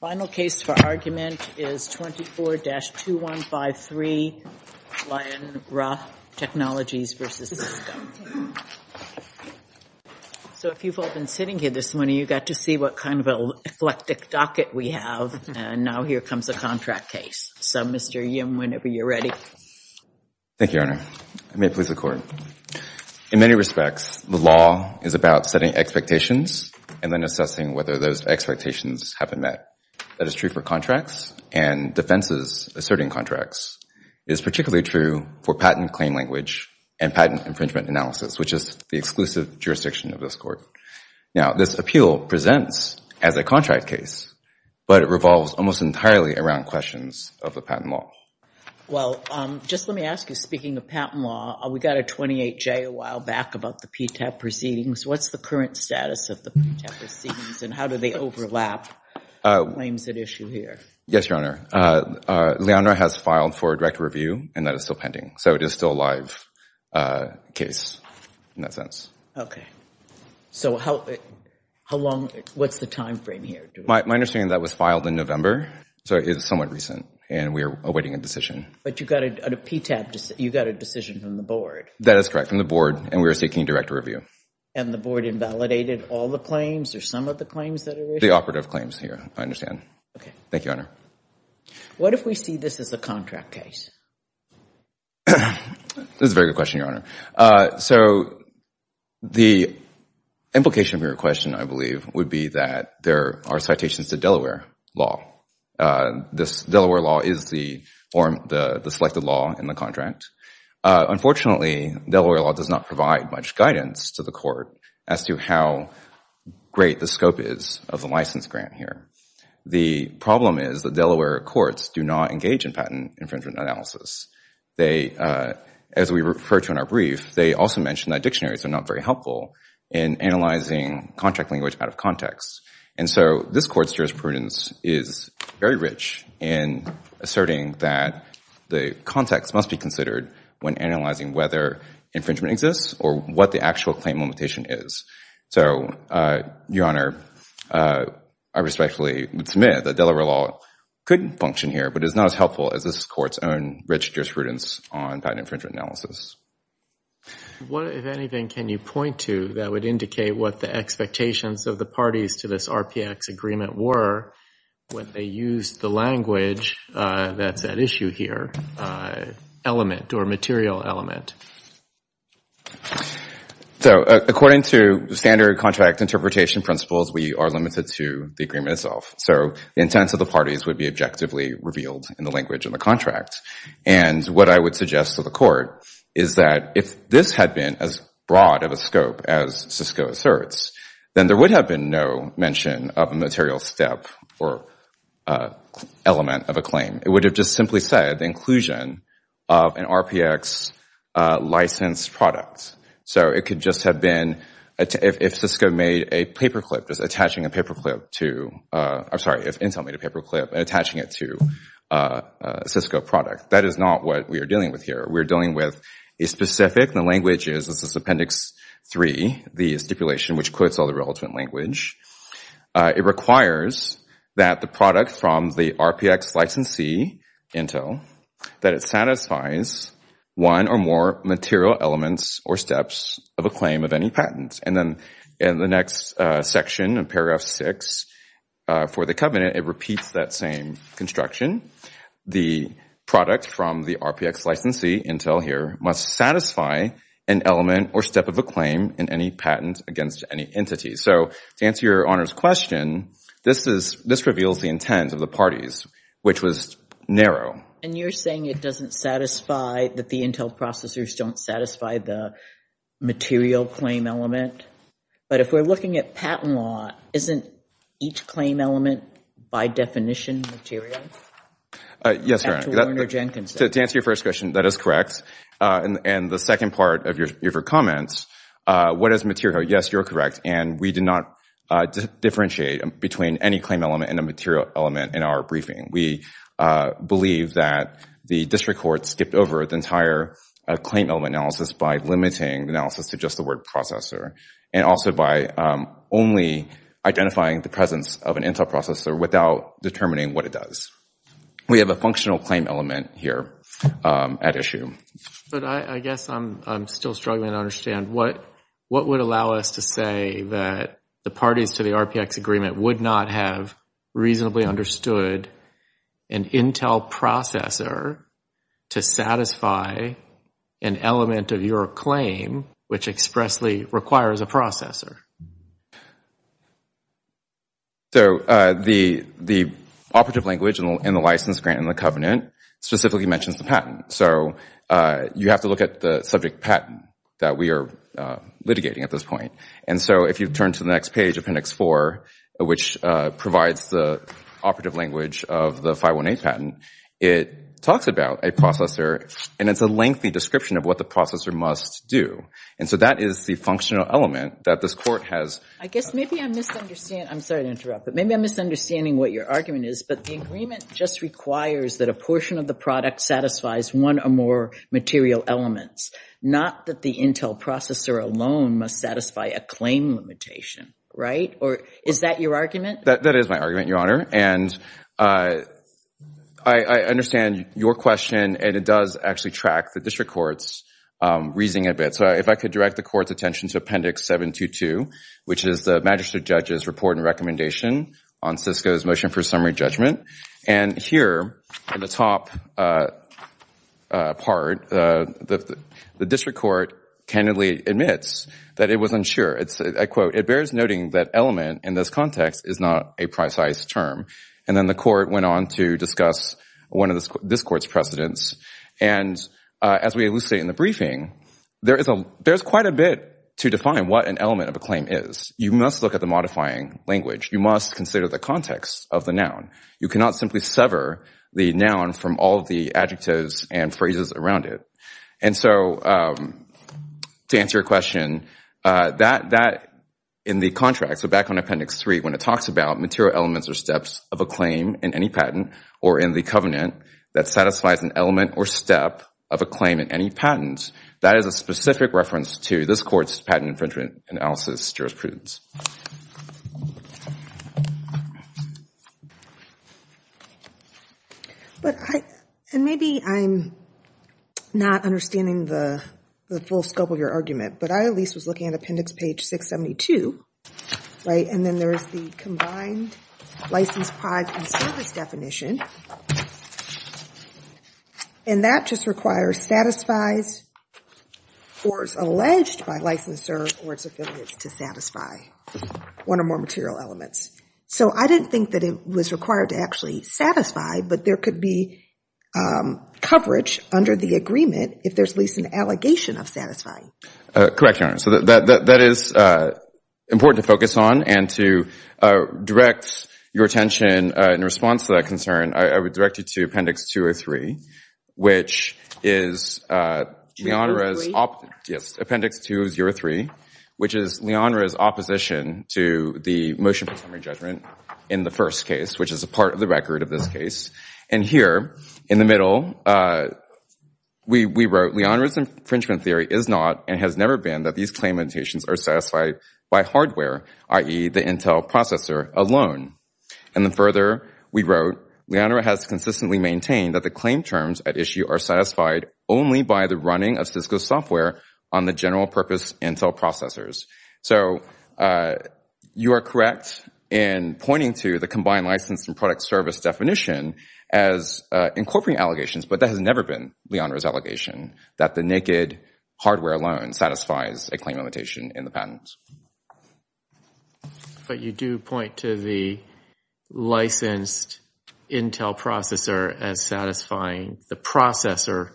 Final case for argument is 24-2153 Lyonra Technologies v. Cisco. So if you've all been sitting here this morning, you got to see what kind of an eclectic docket we have, and now here comes a contract case. So Mr. Yim, whenever you're ready. Thank you, Your Honor. I may please the Court. In many respects, the law is about setting expectations and then assessing whether those expectations have been met. That is true for contracts and defenses asserting contracts. It is particularly true for patent claim language and patent infringement analysis, which is the exclusive jurisdiction of this Court. Now this appeal presents as a contract case, but it revolves almost entirely around questions of the patent law. Well, just let me ask you, speaking of patent law, we got a 28-J a while back about the PTAP proceedings. What's the current status of the PTAP proceedings and how do they overlap with the claims at issue here? Yes, Your Honor. Lyonra has filed for a direct review, and that is still pending. So it is still a live case in that sense. So what's the timeframe here? My understanding is that was filed in November, so it is somewhat recent, and we are awaiting a decision. But you got a decision from the Board. That is correct, from the Board, and we are seeking direct review. And the Board invalidated all the claims or some of the claims that are issued? The operative claims here, I understand. Okay. Thank you, Your Honor. What if we see this as a contract case? This is a very good question, Your Honor. So the implication of your question, I believe, would be that there are citations to Delaware law. This Delaware law is the form, the selected law in the contract. Unfortunately, Delaware law does not provide much guidance to the court as to how great the scope is of the license grant here. The problem is that Delaware courts do not engage in patent infringement analysis. As we referred to in our brief, they also mentioned that dictionaries are not very helpful in analyzing contract language out of context. And so this Court's jurisprudence is very rich in asserting that the context must be when analyzing whether infringement exists or what the actual claim limitation is. So, Your Honor, I respectfully submit that Delaware law could function here, but it is not as helpful as this Court's own rich jurisprudence on patent infringement analysis. If anything, can you point to that would indicate what the expectations of the parties to this RPX agreement were when they used the language that's at issue here element or material element? So according to standard contract interpretation principles, we are limited to the agreement itself. So the intents of the parties would be objectively revealed in the language of the contract. And what I would suggest to the court is that if this had been as broad of a scope as Sisco asserts, then there would have been no mention of a material step or element of a claim. It would have just simply said inclusion of an RPX licensed product. So it could just have been if Sisco made a paper clip, just attaching a paper clip to – I'm sorry, if Intel made a paper clip and attaching it to a Sisco product. That is not what we are dealing with here. We are dealing with a specific – the language is this is Appendix 3. The stipulation which quotes all the relevant language. It requires that the product from the RPX licensee, Intel, that it satisfies one or more material elements or steps of a claim of any patent. And then in the next section in paragraph 6 for the covenant, it repeats that same construction. The product from the RPX licensee, Intel here, must satisfy an element or step of a claim in any patent against any entity. So to answer your Honor's question, this is – this reveals the intent of the parties, which was narrow. And you're saying it doesn't satisfy – that the Intel processors don't satisfy the material claim element? But if we're looking at patent law, isn't each claim element by definition material? Yes, Your Honor. To answer your first question, that is correct. And the second part of your comments, what is material? Yes, you're correct. And we do not differentiate between any claim element and a material element in our briefing. We believe that the district court skipped over the entire claim element analysis by limiting the analysis to just the word processor. And also by only identifying the presence of an Intel processor without determining what it does. We have a functional claim element here at issue. But I guess I'm still struggling to understand. What would allow us to say that the parties to the RPX agreement would not have reasonably understood an Intel processor to satisfy an element of your claim which expressly requires a processor? So, the operative language in the license grant and the covenant specifically mentions the patent. So, you have to look at the subject patent that we are litigating at this point. And so, if you turn to the next page of appendix four, which provides the operative language of the 518 patent, it talks about a processor. And it's a lengthy description of what the processor must do. And so, that is the functional element that this court has. I guess maybe I'm misunderstanding what your argument is, but the agreement just requires that a portion of the product satisfies one or more material elements. Not that the Intel processor alone must satisfy a claim limitation, right? Is that your argument? That is my argument, Your Honor. And I understand your question and it does actually track the district court's reasoning a bit. So, if I could direct the court's attention to appendix 722, which is the magistrate judge's report and recommendation on Cisco's motion for summary judgment. And here, in the top part, the district court candidly admits that it was unsure. I quote, it bears noting that element in this context is not a precise term. And then the court went on to discuss one of this court's precedents. And as we elucidate in the briefing, there is quite a bit to define what an element of a claim is. You must look at the modifying language. You must consider the context of the noun. You cannot simply sever the noun from all of the adjectives and phrases around it. And so, to answer your question, that in the contract, so back on appendix 3, when it talks about material elements or steps of a claim in any patent or in the covenant that satisfies an element or step of a claim in any patent, that is a specific reference to this court's patent infringement analysis jurisprudence. And maybe I'm not understanding the full scope of your argument, but I at least was looking at appendix page 672, right? And then there is the combined license, prize, and service definition. And that just requires satisfies or is alleged by licensor or its affiliates to satisfy one or more material elements. So I didn't think that it was required to actually satisfy, but there could be coverage under the agreement if there's at least an allegation of satisfying. Correct, Your Honor. So that is important to focus on. And to direct your attention in response to that concern, I would direct you to appendix 203, which is Leonra's opposition to the motion for summary judgment in the first case, which is a part of the record of this case. And here, in the middle, we wrote, Leonra's infringement theory is not and has never been that these claim annotations are satisfied by hardware, i.e., the Intel processor alone. And then further, we wrote, Leonra has consistently maintained that the claim terms at issue are satisfied only by the running of Cisco software on the general purpose Intel processors. So you are correct in pointing to the combined license and product service definition as incorporating allegations, but that has never been Leonra's allegation that the naked hardware alone satisfies a claim annotation in the patent. But you do point to the licensed Intel processor as satisfying the processor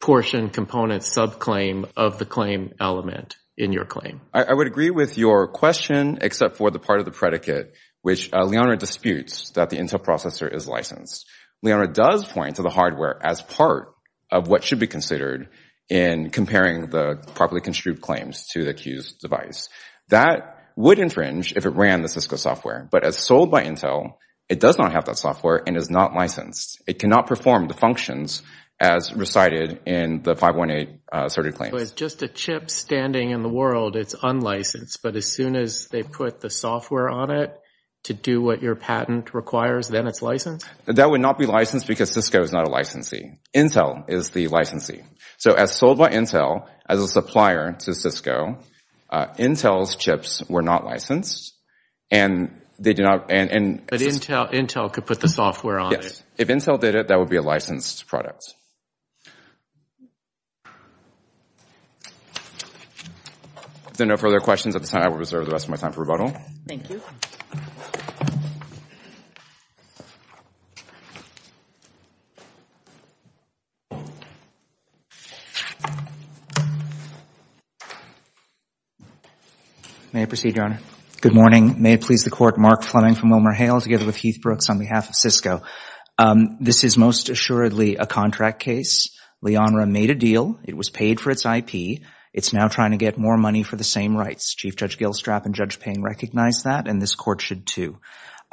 portion component subclaim of the claim element in your claim. I would agree with your question, except for the part of the predicate, which Leonra disputes that the Intel processor is licensed. Leonra does point to the hardware as part of what should be considered in comparing the properly construed claims to the accused device. That would infringe if it ran the Cisco software. But as sold by Intel, it does not have that software and is not licensed. It cannot perform the functions as recited in the 518 asserted claims. So it's just a chip standing in the world, it's unlicensed, but as soon as they put the software on it to do what your patent requires, then it's licensed? That would not be licensed because Cisco is not a licensee. Intel is the licensee. So as sold by Intel as a supplier to Cisco, Intel's chips were not licensed and they do not... But Intel could put the software on it. Yes. If Intel did it, that would be a licensed product. If there are no further questions at this time, I will reserve the rest of my time for Thank you. Thank you. May I proceed, Your Honor? Good morning. May it please the court, Mark Fleming from WilmerHale together with Heath Brooks on behalf of Cisco. This is most assuredly a contract case. Leonra made a deal. It was paid for its IP. It's now trying to get more money for the same rights. Chief Judge Gilstrap and Judge Payne recognize that and this court should too.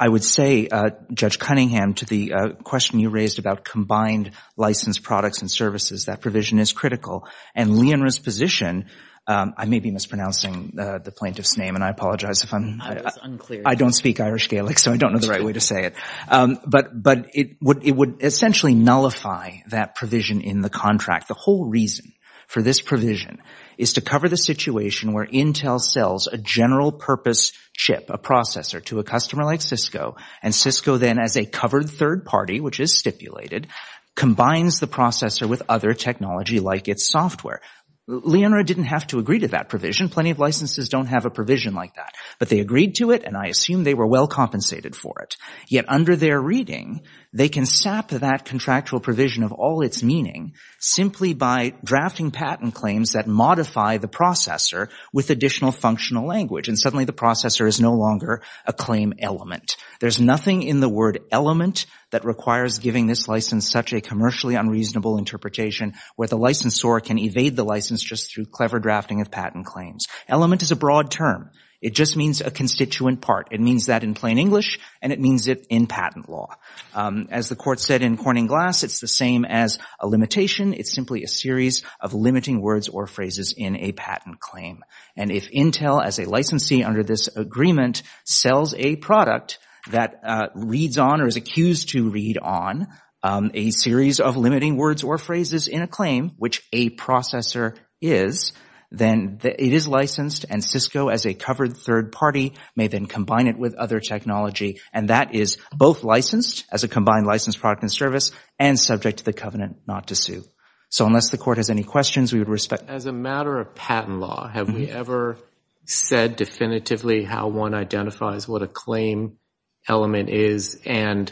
I would say, Judge Cunningham, to the question you raised about combined licensed products and services, that provision is critical. And Leonra's position, I may be mispronouncing the plaintiff's name and I apologize if I'm – I was unclear. I don't speak Irish Gaelic so I don't know the right way to say it. But it would essentially nullify that provision in the contract. The whole reason for this provision is to cover the situation where Intel sells a general purpose chip, a processor to a customer like Cisco and Cisco then as a covered third party, which is stipulated, combines the processor with other technology like its software. Leonra didn't have to agree to that provision. Plenty of licenses don't have a provision like that. But they agreed to it and I assume they were well compensated for it. Yet under their reading, they can sap that contractual provision of all its meaning simply by drafting patent claims that modify the processor with additional functional language and suddenly the processor is no longer a claim element. There's nothing in the word element that requires giving this license such a commercially unreasonable interpretation where the licensor can evade the license just through clever drafting of patent claims. Element is a broad term. It just means a constituent part. It means that in plain English and it means it in patent law. As the court said in Corning Glass, it's the same as a limitation. It's simply a series of limiting words or phrases in a patent claim. And if Intel as a licensee under this agreement sells a product that reads on or is accused to read on a series of limiting words or phrases in a claim, which a processor is, then it is licensed and Cisco as a covered third party may then combine it with other technology and that is both licensed as a combined licensed product and service and subject to the covenant not to sue. So unless the court has any questions, we would respect. As a matter of patent law, have we ever said definitively how one identifies what a claim element is and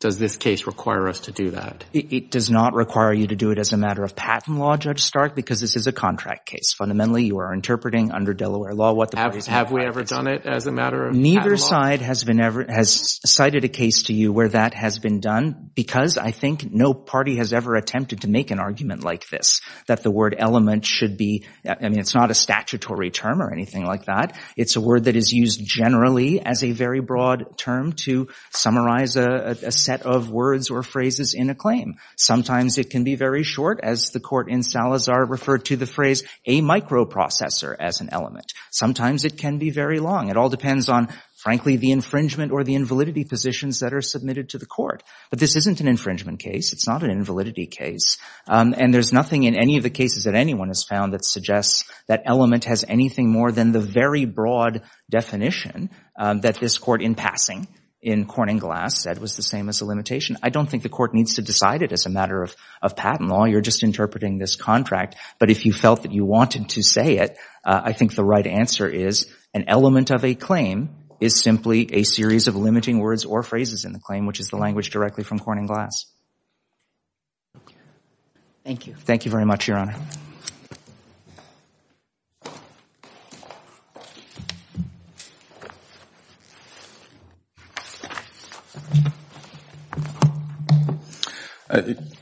does this case require us to do that? It does not require you to do it as a matter of patent law, Judge Stark, because this is a contract case. Fundamentally, you are interpreting under Delaware law what the parties have. Have we ever done it as a matter of neither side has been ever has cited a case to you where that has been done because I think no party has ever attempted to make an argument like this, that the word element should be, I mean, it's not a statutory term or anything like that. It's a word that is used generally as a very broad term to summarize a set of words or phrases in a claim. Sometimes it can be very short, as the court in Salazar referred to the phrase, a microprocessor as an element. Sometimes it can be very long. It all depends on, frankly, the infringement or the invalidity positions that are submitted to the court. But this isn't an infringement case. It's not an invalidity case. And there's nothing in any of the cases that anyone has found that suggests that element has anything more than the very broad definition that this court in passing in Corning Glass said was the same as a limitation. I don't think the court needs to decide it as a matter of patent law. You're just interpreting this contract. But if you felt that you wanted to say it, I think the right answer is an element of a claim is simply a series of limiting words or phrases in the claim, which is the language directly from Corning Glass. Thank you. Thank you very much, Your Honor.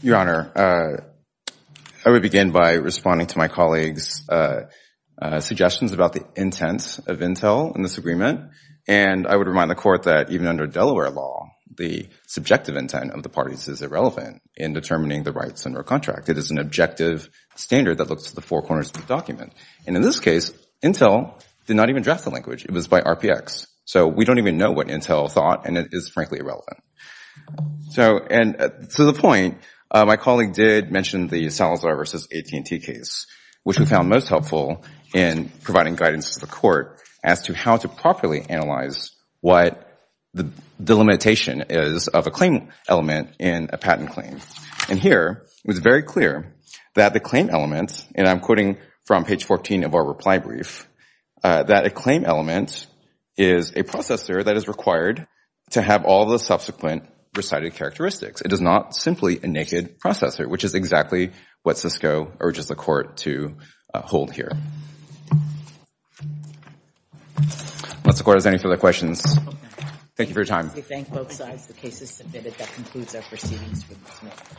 Your Honor, I would begin by responding to my colleagues' suggestions about the intent of intel in this agreement. And I would remind the court that even under Delaware law, the subjective intent of the contract, it is an objective standard that looks to the four corners of the document. And in this case, intel did not even draft the language. It was by RPX. So we don't even know what intel thought, and it is frankly irrelevant. And to the point, my colleague did mention the Salazar v. AT&T case, which we found most helpful in providing guidance to the court as to how to properly analyze what the limitation is of a claim element in a patent claim. And here, it was very clear that the claim element, and I'm quoting from page 14 of our reply brief, that a claim element is a processor that is required to have all the subsequent recited characteristics. It is not simply a naked processor, which is exactly what Siscoe urges the court to hold here. Unless the court has any further questions, thank you for your time. I thank both sides. The case is submitted. That concludes our proceedings. Thank you. Thank you.